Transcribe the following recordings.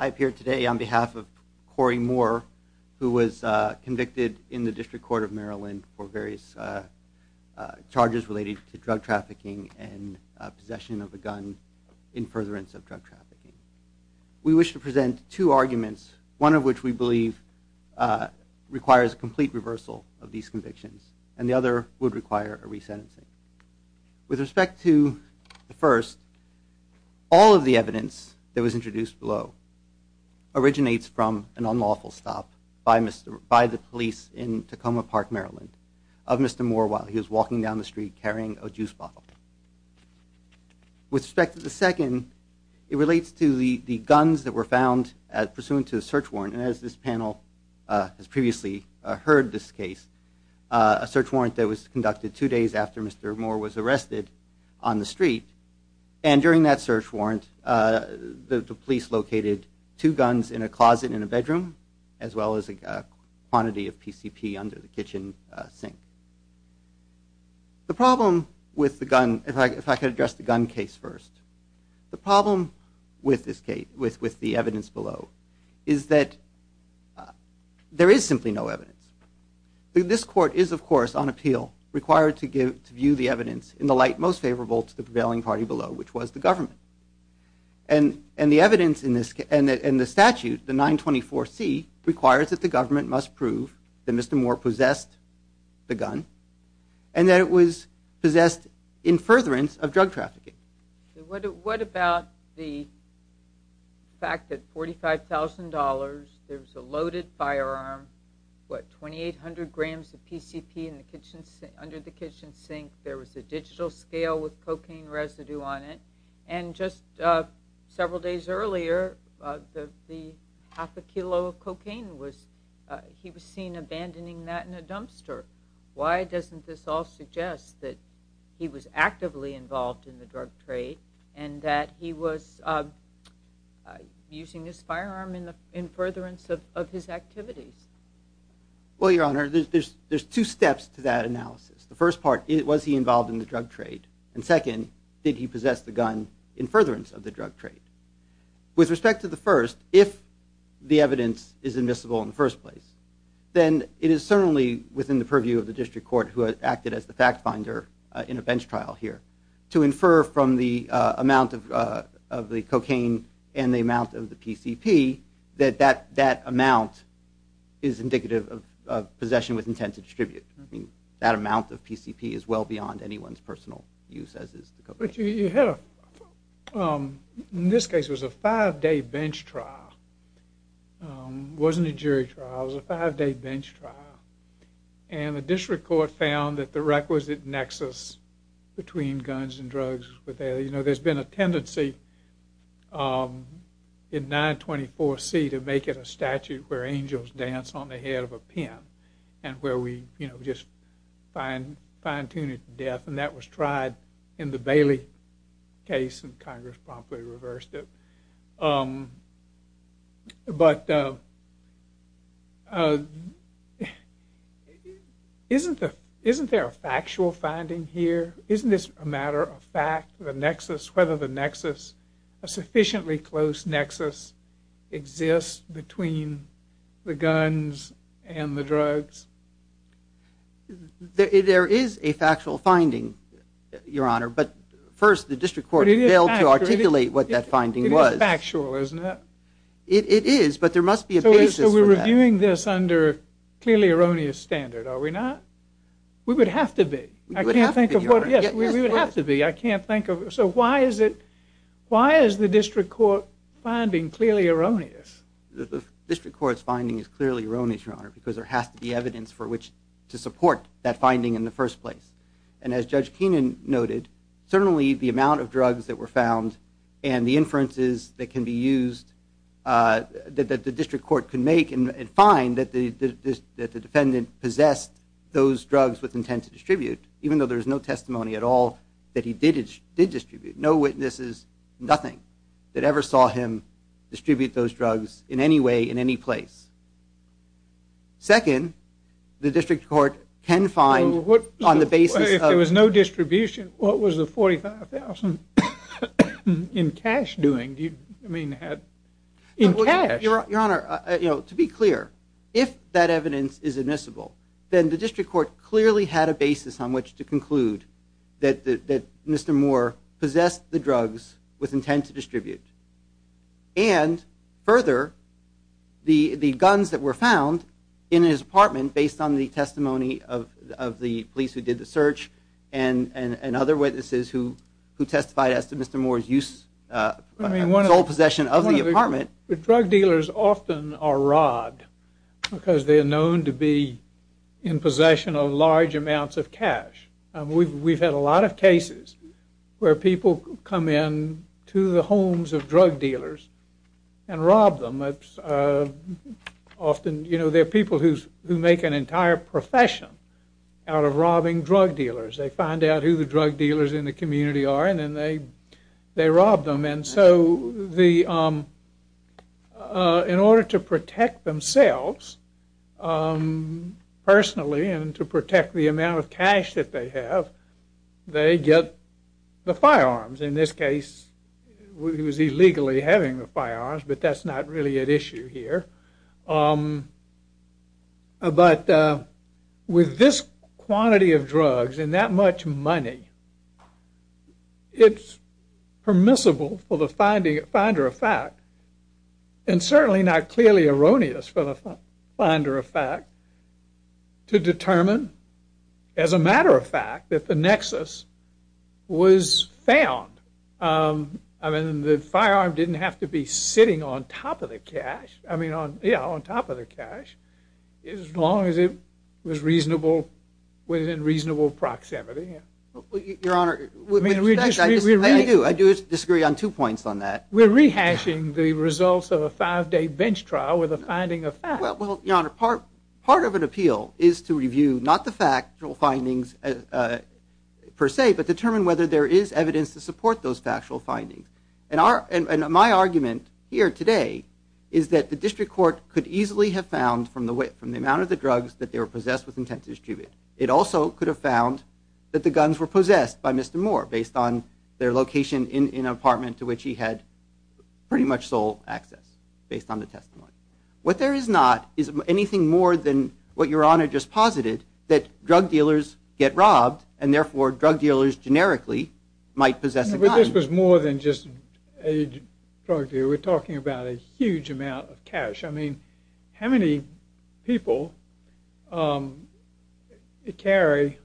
I appear today on behalf of Corey Moore, who was convicted in the District Court of Maryland for various charges related to drug trafficking and possession of a gun in furtherance of drug trafficking. We wish to present two arguments, one of which we believe requires a complete reversal of these convictions, and the other would require a resentencing. With respect to the first, all of the evidence that was introduced below originates from an unlawful stop by the police in Tacoma Park, Maryland, of Mr. Moore while he was walking down the street carrying a juice bottle. With respect to the second, it relates to the guns that were found pursuant to a search warrant, and as this panel has previously heard this case, a search warrant that was issued after Moore was arrested on the street, and during that search warrant, the police located two guns in a closet in a bedroom, as well as a quantity of PCP under the kitchen sink. The problem with the gun, if I could address the gun case first. The problem with this case, with the evidence below, is that there is simply no evidence. This court is, of course, on appeal, required to view the evidence in the light most favorable to the prevailing party below, which was the government. And the evidence in this case, and the statute, the 924C, requires that the government must prove that Mr. Moore possessed the gun, and that it was possessed in furtherance of drug trafficking. What about the fact that $45,000, there was a loaded firearm, what, 2,800 grams of PCP under the kitchen sink, there was a digital scale with cocaine residue on it, and just several days earlier, half a kilo of cocaine was, he was seen abandoning that in a dumpster. Why doesn't this all suggest that he was actively involved in the drug trade, and that he was using his firearm in furtherance of his activities? Well, Your Honor, there's two steps to that analysis. The first part, was he involved in the drug trade? And second, did he possess the gun in furtherance of the drug trade? With respect to the first, if the evidence is invisible in the first place, then it is certainly within the purview of the District Court, who acted as the fact finder in a bench trial here, to infer from the amount of the cocaine and the amount of the PCP, that that amount is indicative of possession with intent to distribute. That amount of PCP is well beyond anyone's personal use, as is the cocaine. But you have, in this case, it was a five-day bench trial, it wasn't a jury trial, it was a five-day bench trial. And the District Court found that the requisite nexus between guns and drugs was there. You know, there's been a tendency in 924C to make it a statute where angels dance on the head of a pin, and where we, you know, just fine-tune it to death, and that was tried in the Bailey case, and Congress promptly reversed it. But isn't there a factual finding here? Isn't this a matter of fact, the nexus, whether the nexus, a sufficiently close nexus, exists between the guns and the drugs? There is a factual finding, Your Honor, but first, the District Court failed to articulate what that finding was. It's factual, isn't it? It is, but there must be a basis for that. So we're reviewing this under clearly erroneous standard, are we not? We would have to be. We would have to be, Your Honor. Yes, we would have to be, I can't think of... So why is it, why is the District Court finding clearly erroneous? The District Court's finding is clearly erroneous, Your Honor, because there has to be evidence for which to support that finding in the first place. And as Judge Keenan noted, certainly the amount of drugs that were found, and the inferences that can be used, that the District Court can make and find, that the defendant possessed those drugs with intent to distribute, even though there's no testimony at all that he did distribute. No witnesses, nothing, that ever saw him distribute those drugs in any way, in any place. Second, the District Court can find, on the basis of... $25,000 in cash doing, do you mean had, in cash? Your Honor, to be clear, if that evidence is admissible, then the District Court clearly had a basis on which to conclude that Mr. Moore possessed the drugs with intent to distribute. And further, the guns that were found in his apartment, based on the testimony of the police who did the search, and other witnesses who testified as to Mr. Moore's use, sole possession of the apartment... But drug dealers often are robbed, because they are known to be in possession of large amounts of cash. We've had a lot of cases where people come in to the homes of drug dealers and rob them. Often, you know, there are people who make an entire profession out of robbing drug dealers. They find out who the drug dealers in the community are, and then they rob them. And so, in order to protect themselves, personally, and to protect the amount of cash that they have, they get the firearms. In this case, he was illegally having the firearms, but that's not really at issue here. But with this quantity of drugs, and that much money, it's permissible for the finder of fact, and certainly not clearly erroneous for the finder of fact, to determine, as a Nexus, was found. I mean, the firearm didn't have to be sitting on top of the cash, as long as it was within reasonable proximity. Your Honor, I do disagree on two points on that. We're rehashing the results of a five-day bench trial with a finding of fact. Well, Your Honor, part of an appeal is to review, not the factual findings per se, but determine whether there is evidence to support those factual findings. And my argument here today is that the district court could easily have found, from the amount of the drugs that they were possessed with, intent to distribute, it also could have found that the guns were possessed by Mr. Moore, based on their location in an apartment to which he had pretty much sole access, based on the testimony. What there is not, is anything more than what Your Honor just posited, that drug dealers get robbed, and therefore drug dealers, generically, might possess a gun. But this was more than just a drug dealer, we're talking about a huge amount of cash. I mean, how many people carry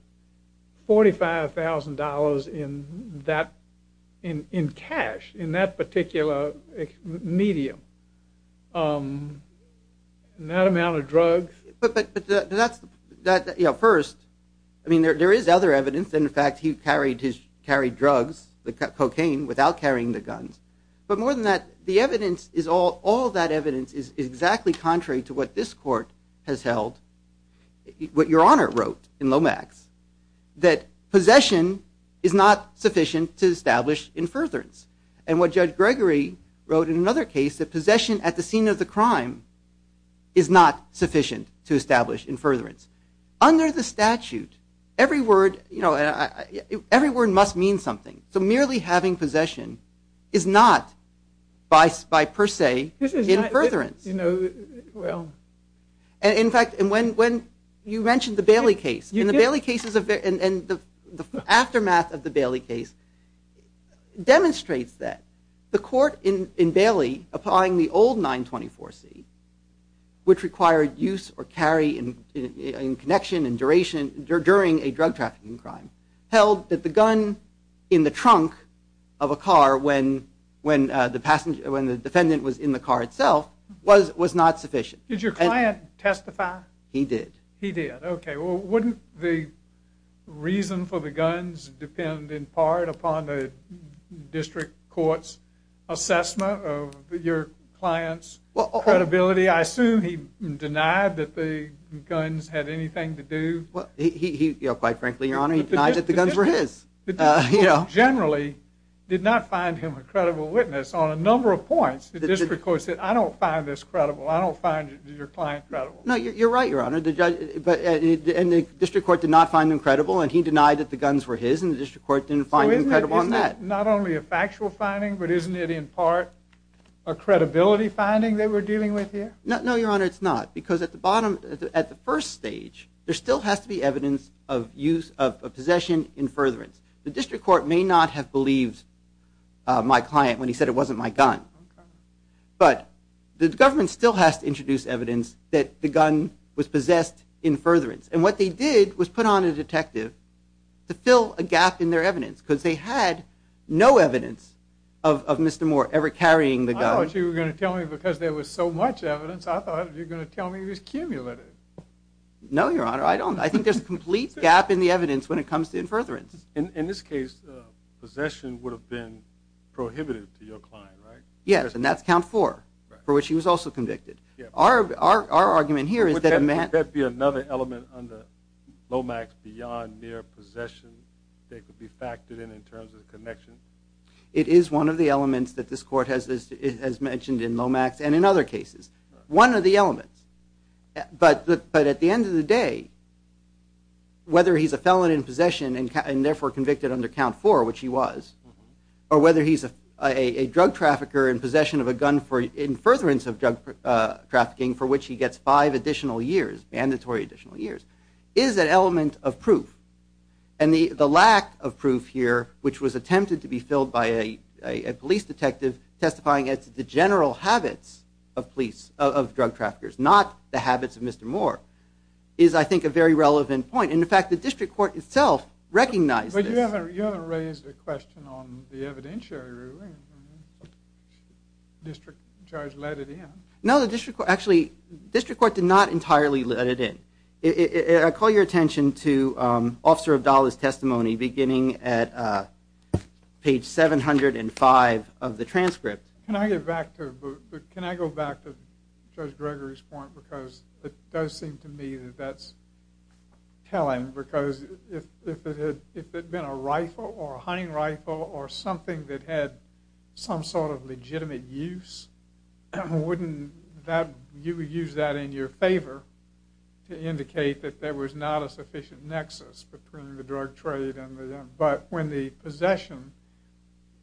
$45,000 in cash, in that particular medium, that amount of drugs? But that's, you know, first, I mean, there is other evidence, and in fact, he carried drugs, cocaine, without carrying the guns. But more than that, the evidence is all, all that evidence is exactly contrary to what this court has held, what Your Honor wrote in Lomax, that possession is not sufficient to establish in furtherance. And what Judge Gregory wrote in another case, that possession at the scene of the crime is not sufficient to establish in furtherance. Under the statute, every word, you know, every word must mean something. So merely having possession is not, by per se, in furtherance. This is not, you know, well. In fact, when you mentioned the Bailey case, in the Bailey case, and the aftermath of the Bailey case, demonstrates that. The court in Bailey, applying the old 924c, which required use or carry in connection and duration during a drug trafficking crime, held that the gun in the trunk of a car when the defendant was in the car itself was not sufficient. Did your client testify? He did. He did. Okay. Well, wouldn't the reason for the guns depend, in part, upon the district court's assessment of your client's credibility? I assume he denied that the guns had anything to do. Well, he, quite frankly, your honor, he denied that the guns were his. The district court generally did not find him a credible witness on a number of points. The district court said, I don't find this credible. I don't find your client credible. No, you're right, your honor. And the district court did not find him credible. And he denied that the guns were his, and the district court didn't find him credible on that. So isn't that not only a factual finding, but isn't it, in part, a credibility finding that we're dealing with here? No, your honor, it's not. Because at the bottom, at the first stage, there still has to be evidence of use of possession in furtherance. The district court may not have believed my client when he said it wasn't my gun. But the government still has to introduce evidence that the gun was possessed in furtherance. And what they did was put on a detective to fill a gap in their evidence, because they had no evidence of Mr. Moore ever carrying the gun. I thought you were going to tell me, because there was so much evidence, I thought you were going to tell me it was cumulative. No, your honor, I don't. I think there's a complete gap in the evidence when it comes to in furtherance. In this case, possession would have been prohibited to your client, right? Yes, and that's count four, for which he was also convicted. Our argument here is that a man- Would that be another element under Lomax beyond mere possession that could be factored in in terms of the connection? It is one of the elements that this court has mentioned in Lomax and in other cases. One of the elements. But at the end of the day, whether he's a felon in possession and therefore convicted under count four, which he was, or whether he's a drug trafficker in possession of a gun in furtherance of drug trafficking, for which he gets five additional years, mandatory additional years, is an element of proof. And the lack of proof here, which was attempted to be filled by a police detective testifying as to the general habits of drug traffickers, not the habits of Mr. Moore, is I think a very relevant point. And in fact, the district court itself recognized this. But you haven't raised a question on the evidentiary ruling. District charge let it in. No, the district court, actually, district court did not entirely let it in. I call your attention to Officer Abdallah's testimony, beginning at page 705 of the transcript. Can I get back to, can I go back to Judge Gregory's point? Because it does seem to me that that's telling. Because if it had been a rifle or a hunting rifle or something that had some sort of legitimate use, wouldn't that, you would use that in your favor to indicate that there was not a sufficient nexus between the drug trade and the gun. But when the possession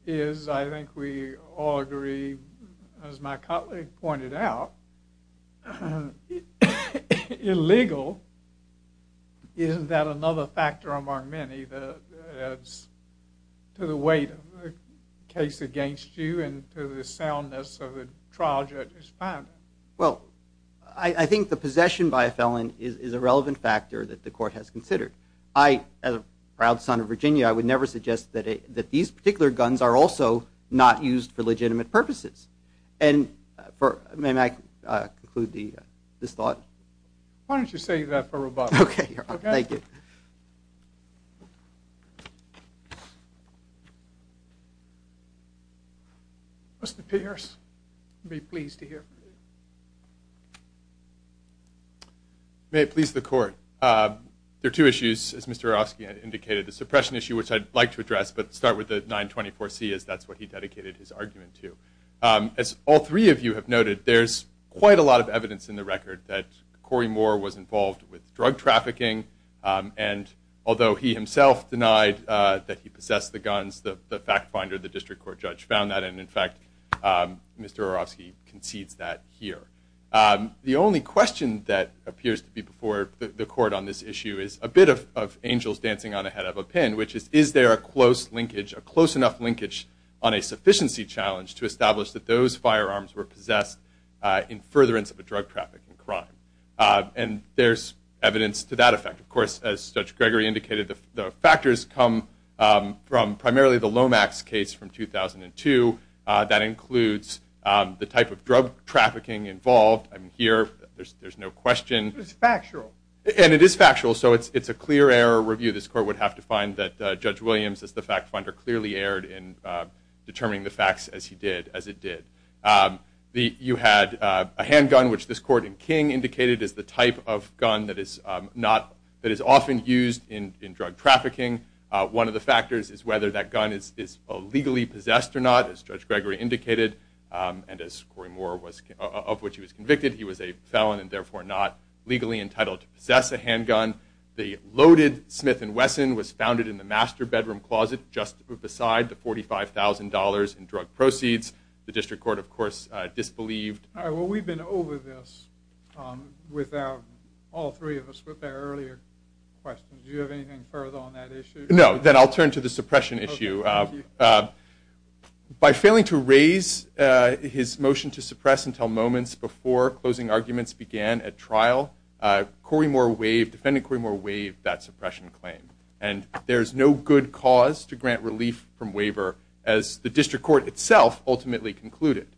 is, I think we all agree, as my colleague pointed out, illegal, isn't that another factor among many that adds to the weight of the case against you and to the soundness of the trial judge's finding? Well, I think the possession by a felon is a relevant factor that the court has considered. I, as a proud son of Virginia, I would never suggest that these particular guns are also not used for legitimate purposes. And for, may I conclude this thought? Why don't you save that for rebuttal. Okay, thank you. Mr. Pierce, I'd be pleased to hear from you. May it please the court. There are two issues, as Mr. Arofsky had indicated, the suppression issue, which I'd like to address, but start with the 924C, as that's what he dedicated his argument to. As all three of you have noted, there's quite a lot of evidence in the record that Corey Moore was involved with drug trafficking. And although he himself denied that he possessed the guns, the fact finder, the district court judge, found that. And in fact, Mr. Arofsky concedes that here. The only question that appears to be before the court on this issue is a bit of angels dancing on the head of a pin, which is, is there a close linkage, a close enough linkage on a sufficiency challenge to establish that those firearms were possessed in furtherance of a drug trafficking crime? And there's evidence to that effect. Of course, as Judge Gregory indicated, the factors come from primarily the Lomax case from 2002. That includes the type of drug trafficking involved. I mean, here, there's no question. It's factual. And it is factual, so it's a clear error review. This court would have to find that Judge Williams, as the fact finder, clearly erred in determining the facts as he did, as it did. You had a handgun, which this court in King indicated is the type of gun that is often used in drug trafficking. One of the factors is whether that gun is legally possessed or not. As Judge Gregory indicated, and as Corey Moore was, of which he was convicted, he was a felon and therefore not legally entitled to possess a handgun. The loaded Smith & Wesson was founded in the master bedroom closet just beside the $45,000 in drug proceeds. The district court, of course, disbelieved. All right, well, we've been over this without all three of us with our earlier questions. Do you have anything further on that issue? No, then I'll turn to the suppression issue. By failing to raise his motion to suppress until moments before closing arguments began at trial, Corey Moore waived, defendant Corey Moore waived that suppression claim. And there's no good cause to grant relief from waiver, as the district court itself ultimately concluded.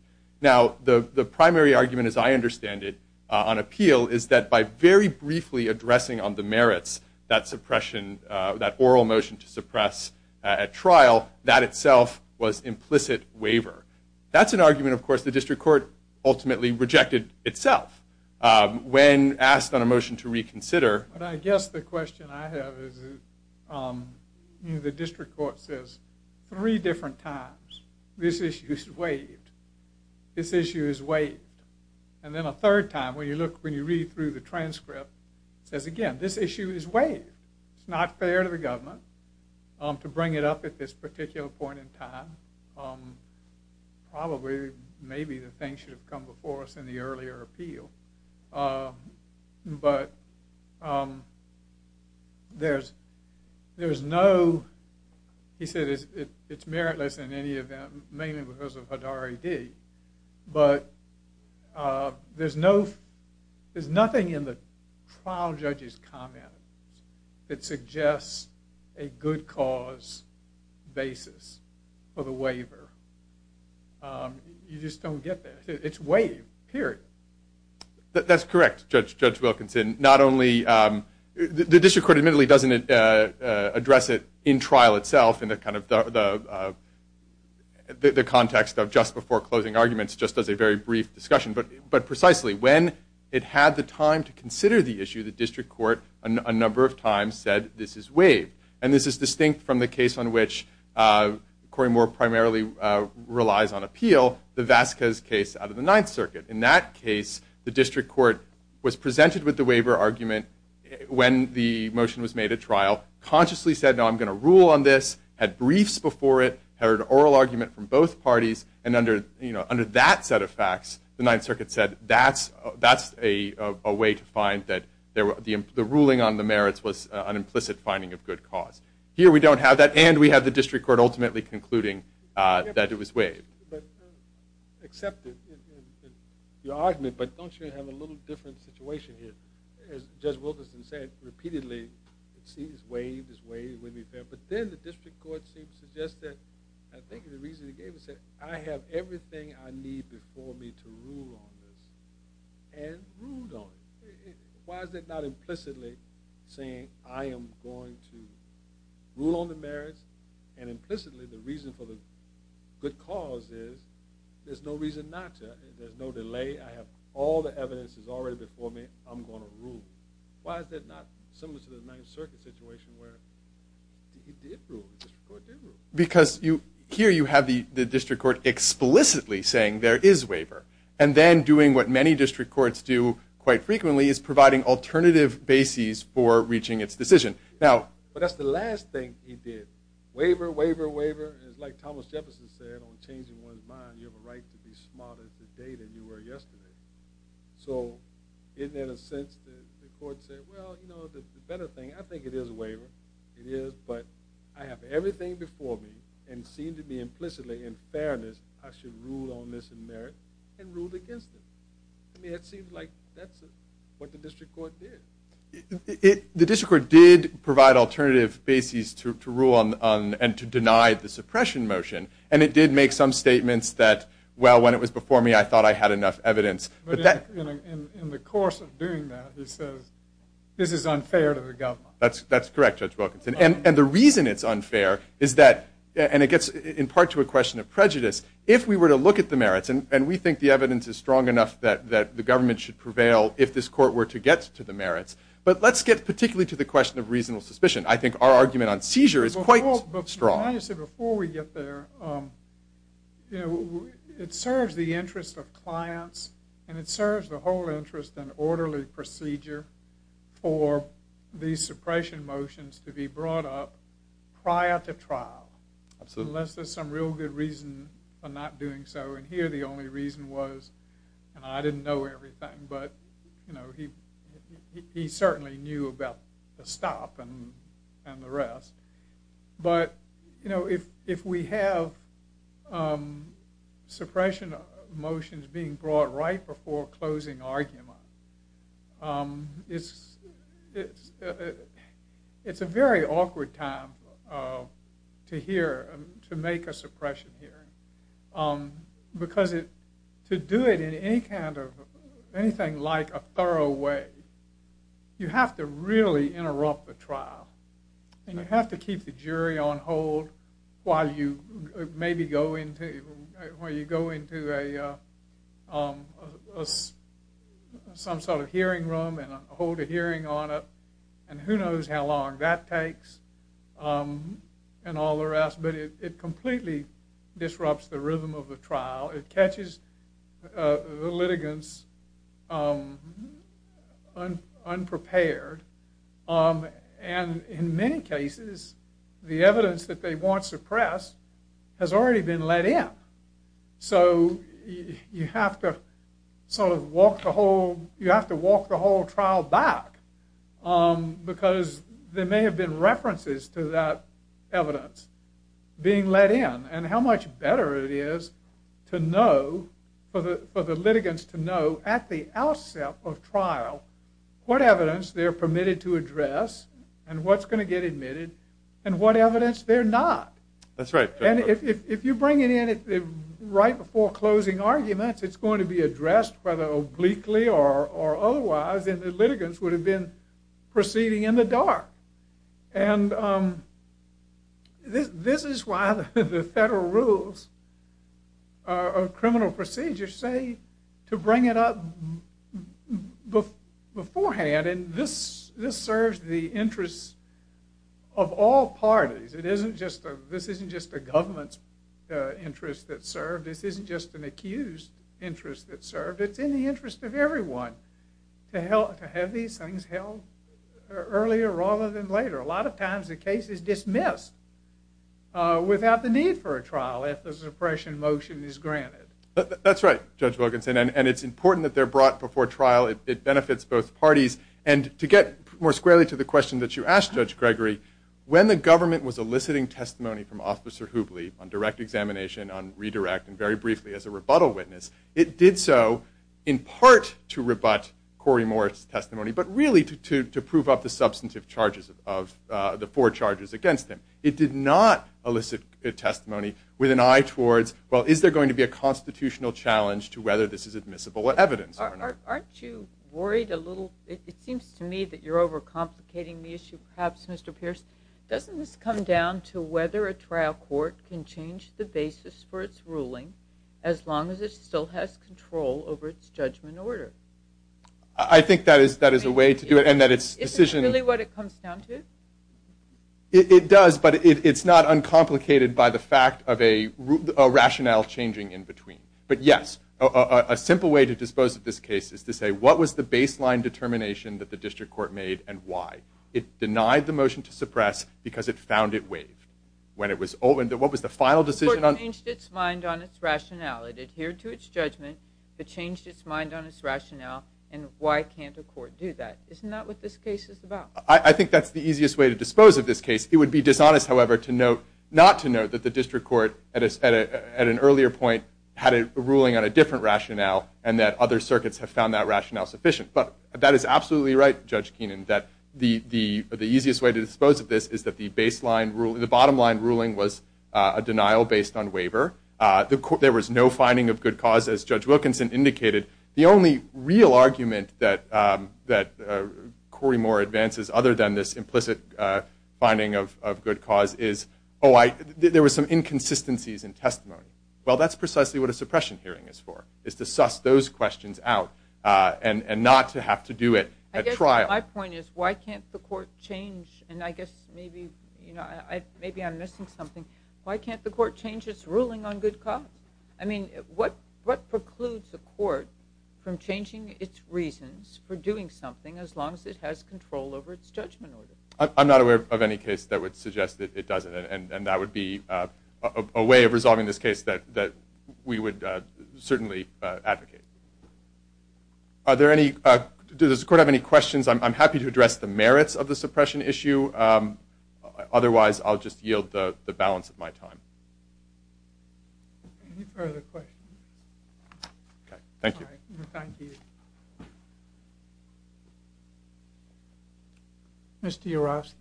Now, the primary argument, as I understand it, on appeal is that by very briefly addressing on the merits that suppression, that oral motion to suppress at trial, that itself was implicit waiver. That's an argument, of course, the district court ultimately rejected itself. When asked on a motion to reconsider. But I guess the question I have is the district court says three different times, this issue is waived. This issue is waived. And then a third time, when you look, when you read through the transcript, it says, again, this issue is waived. It's not fair to the government to bring it up at this particular point in time. Probably, maybe the thing should have come before us in the earlier appeal. But there's no, he said it's meritless in any event, mainly because of Hadari D. But there's no, there's nothing in the trial judge's comment that suggests a good cause basis for the waiver. You just don't get that. It's waived, period. That's correct, Judge Wilkinson. Not only, the district court admittedly doesn't address it in trial itself in the kind of, the context of just before closing arguments, just as a very brief discussion. But precisely, when it had the time to consider the issue, the district court a number of times said, this is waived. And this is distinct from the case on which Corey Moore primarily relies on appeal, the Vasquez case out of the Ninth Circuit. In that case, the district court was presented with the waiver argument when the motion was made at trial, consciously said, no, I'm going to rule on this, had briefs before it, heard an oral argument from both parties, and under that set of facts, the Ninth Circuit said, that's a way to find that the ruling on the merits was an implicit finding of good cause. Here, we don't have that, and we have the district court ultimately concluding that it was waived. But except in your argument, but don't you have a little different situation here? As Judge Wilkinson said repeatedly, it's waived, it's waived, it wouldn't be fair. But then the district court seems to suggest that, I think the reason it gave is that, I have everything I need before me to rule on this, and ruled on it. Why is it not implicitly saying, I am going to rule on the merits, and implicitly the reason for the good cause is, there's no reason not to, there's no delay, I have all the evidence that's already before me, I'm going to rule. Why is that not similar to the Ninth Circuit situation, where it did rule, the district court did rule? Because here you have the district court explicitly saying there is waiver, and then doing what many district courts do quite frequently, is providing alternative bases for reaching its decision. But that's the last thing he did. Waiver, waiver, waiver, and it's like Thomas Jefferson said, on changing one's mind, you have a right to be smarter today than you were yesterday. So, isn't it a sense that the court said, well, you know, the better thing, I think it is a waiver, it is, but I have everything before me, and seem to be implicitly in fairness, I should rule on this in merit, and ruled against it. I mean, it seems like that's what the district court did. The district court did provide alternative bases to rule on, and to deny the suppression motion. And it did make some statements that, well, when it was before me, I thought I had enough evidence. But in the course of doing that, he says, this is unfair to the government. That's correct, Judge Wilkinson. And the reason it's unfair is that, and it gets in part to a question of prejudice, if we were to look at the merits, and we think the evidence is strong enough that the government should prevail if this court were to get to the merits, but let's get particularly to the question of reasonable suspicion. I think our argument on seizure is quite strong. Before we get there, it serves the interest of clients, and it serves the whole interest in orderly procedure for these suppression motions to be brought up prior to trial, unless there's some real good reason for not doing so. And here the only reason was, and I didn't know everything, but he certainly knew about the stop and the rest. But if we have suppression motions being brought right before closing argument, it's a very awkward time to make a suppression hearing because to do it in anything like a thorough way, you have to really interrupt the trial, and you have to keep the jury on hold while you go into some sort of hearing room and hold a hearing on it. And who knows how long that takes and all the rest, but it completely disrupts the rhythm of the trial. It catches the litigants unprepared, and in many cases the evidence that they want suppressed has already been let in. So you have to walk the whole trial back because there may have been references to that evidence being let in, and how much better it is for the litigants to know at the outset of trial what evidence they're permitted to address and what's going to get admitted and what evidence they're not. That's right. And if you bring it in right before closing arguments, it's going to be addressed whether obliquely or otherwise, and the litigants would have been proceeding in the dark. And this is why the federal rules of criminal procedure say to bring it up beforehand, and this serves the interests of all parties. This isn't just a government's interest that's served. This isn't just an accused's interest that's served. It's in the interest of everyone to have these things held earlier rather than later. A lot of times the case is dismissed without the need for a trial if the suppression motion is granted. That's right, Judge Wilkinson, and it's important that they're brought before trial. It benefits both parties. And to get more squarely to the question that you asked, Judge Gregory, when the government was eliciting testimony from Officer Hoopley on direct examination, on redirect, and very briefly as a rebuttal witness, it did so in part to rebut Corey Moore's testimony, but really to prove up the substantive charges of the four charges against him. It did not elicit testimony with an eye towards, well, is there going to be a constitutional challenge to whether this is admissible evidence or not? Aren't you worried a little? It seems to me that you're overcomplicating the issue perhaps, Mr. Pierce. Doesn't this come down to whether a trial court can change the basis for its ruling as long as it still has control over its judgment order? I think that is a way to do it. Isn't that really what it comes down to? It does, but it's not uncomplicated by the fact of a rationale changing in between. But, yes, a simple way to dispose of this case is to say, what was the baseline determination that the district court made and why? It denied the motion to suppress because it found it waived. What was the final decision? The court changed its mind on its rationale. It adhered to its judgment, but changed its mind on its rationale, and why can't a court do that? Isn't that what this case is about? I think that's the easiest way to dispose of this case. It would be dishonest, however, not to note that the district court, at an earlier point, had a ruling on a different rationale and that other circuits have found that rationale sufficient. But that is absolutely right, Judge Keenan, that the easiest way to dispose of this is that the baseline ruling, the bottom line ruling was a denial based on waiver. There was no finding of good cause, as Judge Wilkinson indicated. The only real argument that Corey Moore advances, other than this implicit finding of good cause, is, oh, there were some inconsistencies in testimony. Well, that's precisely what a suppression hearing is for, is to suss those questions out and not to have to do it at trial. My point is, why can't the court change, and I guess maybe I'm missing something, why can't the court change its ruling on good cause? I mean, what precludes a court from changing its reasons for doing something as long as it has control over its judgment order? I'm not aware of any case that would suggest that it doesn't, and that would be a way of resolving this case that we would certainly advocate. Does the court have any questions? I'm happy to address the merits of the suppression issue. Otherwise, I'll just yield the balance of my time. Mr. Urofsky.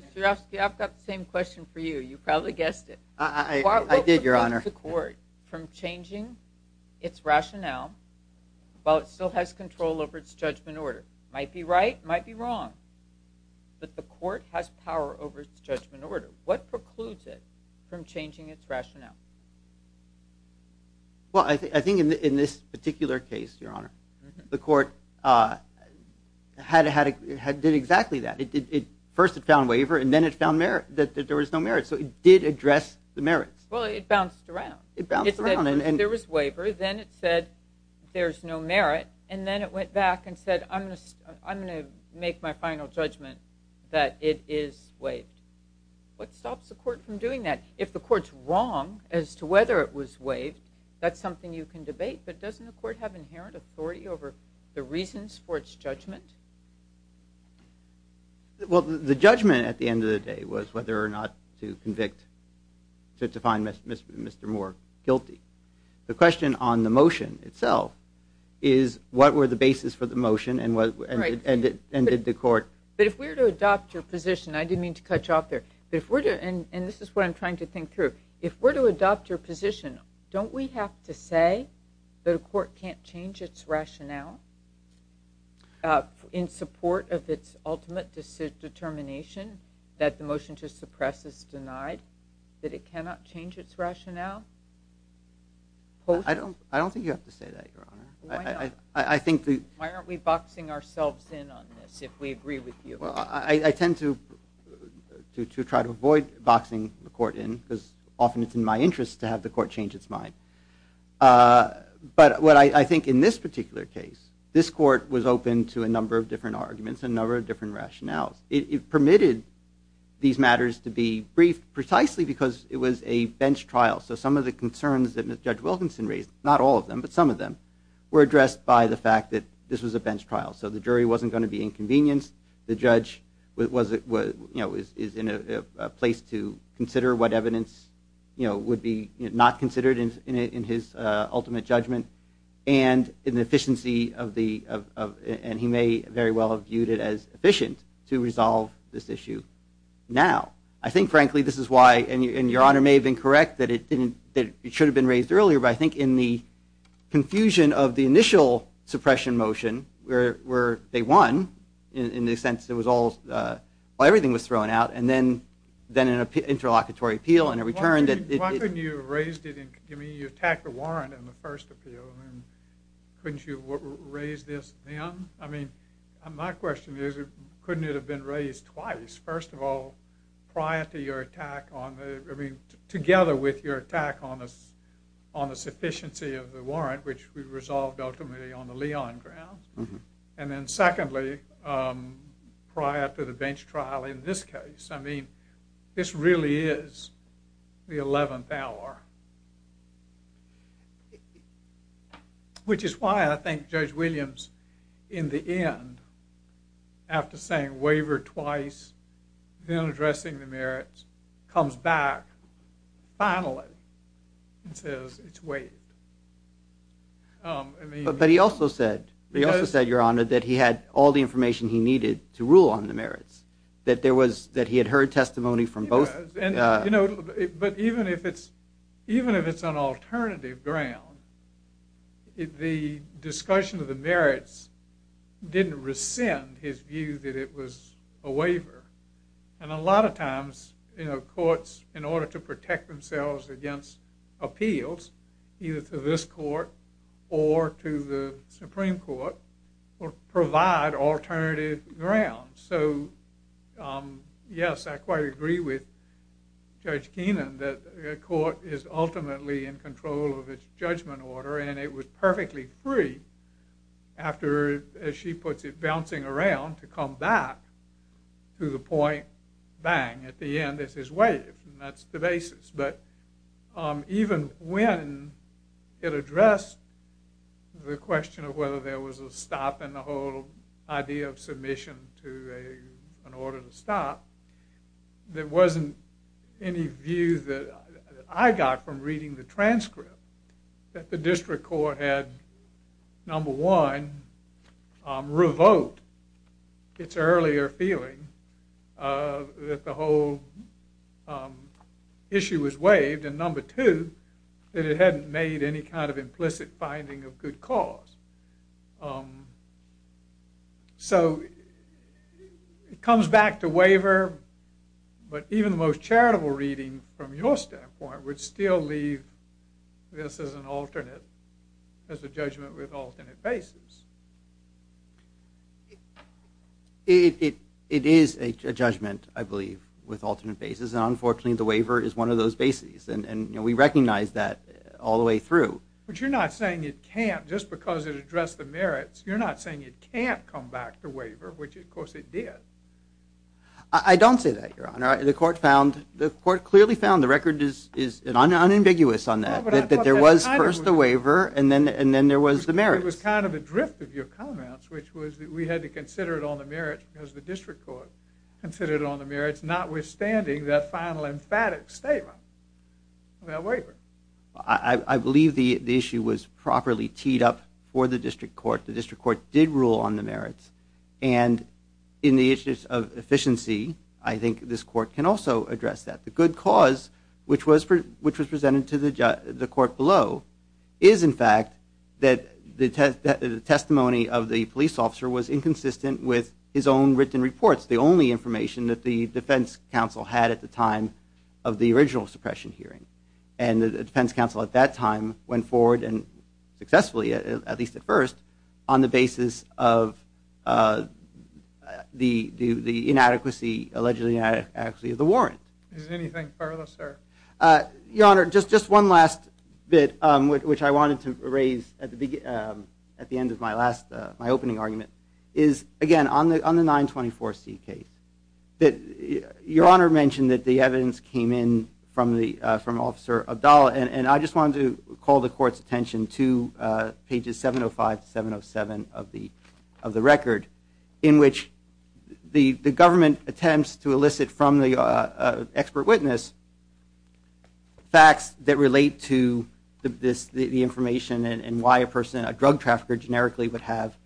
Mr. Urofsky, I've got the same question for you. You probably guessed it. I did, Your Honor. What precludes the court from changing its rationale while it still has control over its judgment order? It might be right, it might be wrong, but the court has power over its judgment order. What precludes it from changing its rationale? Well, I think in this particular case, Your Honor, the court did exactly that. First it found waiver, and then it found that there was no merit. So it did address the merits. Well, it bounced around. It bounced around. There was waiver, then it said there's no merit, and then it went back and said I'm going to make my final judgment that it is waived. What stops the court from doing that? If the court's wrong as to whether it was waived, that's something you can debate, but doesn't the court have inherent authority over the reasons for its judgment? Well, the judgment at the end of the day was whether or not to convict, to find Mr. Moore guilty. The question on the motion itself is what were the bases for the motion and did the court? But if we were to adopt your position, I didn't mean to cut you off there, and this is what I'm trying to think through. If we're to adopt your position, don't we have to say that a court can't change its rationale? In support of its ultimate determination that the motion to suppress is denied, that it cannot change its rationale? I don't think you have to say that, Your Honor. Why aren't we boxing ourselves in on this if we agree with you? Well, I tend to try to avoid boxing the court in because often it's in my interest to have the court change its mind. But what I think in this particular case, this court was open to a number of different arguments and a number of different rationales. It permitted these matters to be briefed precisely because it was a bench trial. So some of the concerns that Judge Wilkinson raised, not all of them, but some of them, were addressed by the fact that this was a bench trial. So the jury wasn't going to be inconvenienced. The judge is in a place to consider what evidence would be not considered in his ultimate judgment and he may very well have viewed it as efficient to resolve this issue now. I think, frankly, this is why, and Your Honor may have been correct that it should have been raised earlier, but I think in the confusion of the initial suppression motion where they won in the sense that everything was thrown out and then an interlocutory appeal and a return. Why couldn't you have raised it? I mean, you attacked the warrant in the first appeal. Couldn't you have raised this then? I mean, my question is couldn't it have been raised twice? First of all, prior to your attack on, I mean, together with your attack on the sufficiency of the warrant, which we resolved ultimately on the Leon grounds. And then secondly, prior to the bench trial in this case. I mean, this really is the 11th hour. Which is why I think Judge Williams, in the end, after saying waiver twice, then addressing the merits, comes back finally and says it's waived. But he also said, Your Honor, that he had all the information he needed to rule on the merits, that he had heard testimony from both. But even if it's on alternative ground, the discussion of the merits didn't rescind his view that it was a waiver. And a lot of times, courts, in order to protect themselves against appeals, either to this court or to the Supreme Court, will provide alternative grounds. So, yes, I quite agree with Judge Keenan that a court is ultimately in control of its judgment order. And it was perfectly free after, as she puts it, bouncing around to come back to the point, bang, at the end, this is waived. And that's the basis. But even when it addressed the question of whether there was a stop in the whole idea of submission to an order to stop, there wasn't any view that I got from reading the transcript that the district court had, number one, revoked its earlier feeling that the whole issue was waived, and number two, that it hadn't made any kind of implicit finding of good cause. So, it comes back to waiver, but even the most charitable reading, from your standpoint, would still leave this as an alternate, as a judgment with alternate basis. It is a judgment, I believe, with alternate basis, and unfortunately, the waiver is one of those bases, and we recognize that all the way through. But you're not saying it can't, just because it addressed the merits, you're not saying it can't come back to waiver, which, of course, it did. I don't say that, Your Honor. The court found, the court clearly found, the record is unambiguous on that, that there was first the waiver, and then there was the merits. It was kind of a drift of your comments, which was that we had to consider it on the merits, because the district court considered it on the merits, notwithstanding that final emphatic statement about waiver. I believe the issue was properly teed up for the district court. The district court did rule on the merits, and in the issues of efficiency, I think this court can also address that. The good cause, which was presented to the court below, is, in fact, that the testimony of the police officer was inconsistent with his own written reports, the only information that the defense counsel had at the time of the original suppression hearing. And the defense counsel at that time went forward and successfully, at least at first, on the basis of the inadequacy, Is there anything further, sir? Your Honor, just one last bit, which I wanted to raise at the end of my opening argument, is, again, on the 924C case. Your Honor mentioned that the evidence came in from Officer Abdallah, and I just wanted to call the court's attention to pages 705 to 707 of the record, in which the government attempts to elicit from the expert witness facts that relate to the information and why a drug trafficker generically would have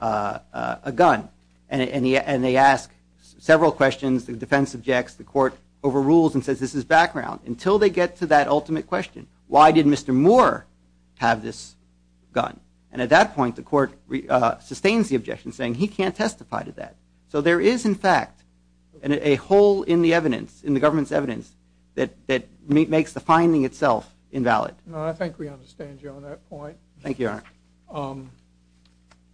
a gun. And they ask several questions. The defense objects. The court overrules and says this is background until they get to that ultimate question. Why did Mr. Moore have this gun? And at that point, the court sustains the objection, saying he can't testify to that. So there is, in fact, a hole in the evidence, in the government's evidence, that makes the finding itself invalid. No, I think we understand you on that point. Thank you, Your Honor.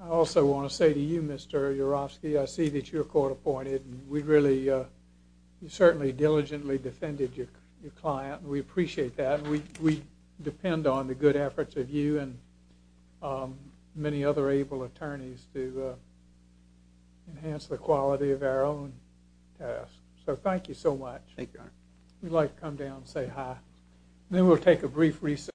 I also want to say to you, Mr. Urofsky, I see that you're court-appointed. We really certainly diligently defended your client, and we appreciate that. And we depend on the good efforts of you and many other able attorneys to enhance the quality of our own tasks. So thank you so much. Thank you, Your Honor. We'd like to come down and say hi. Then we'll take a brief recess.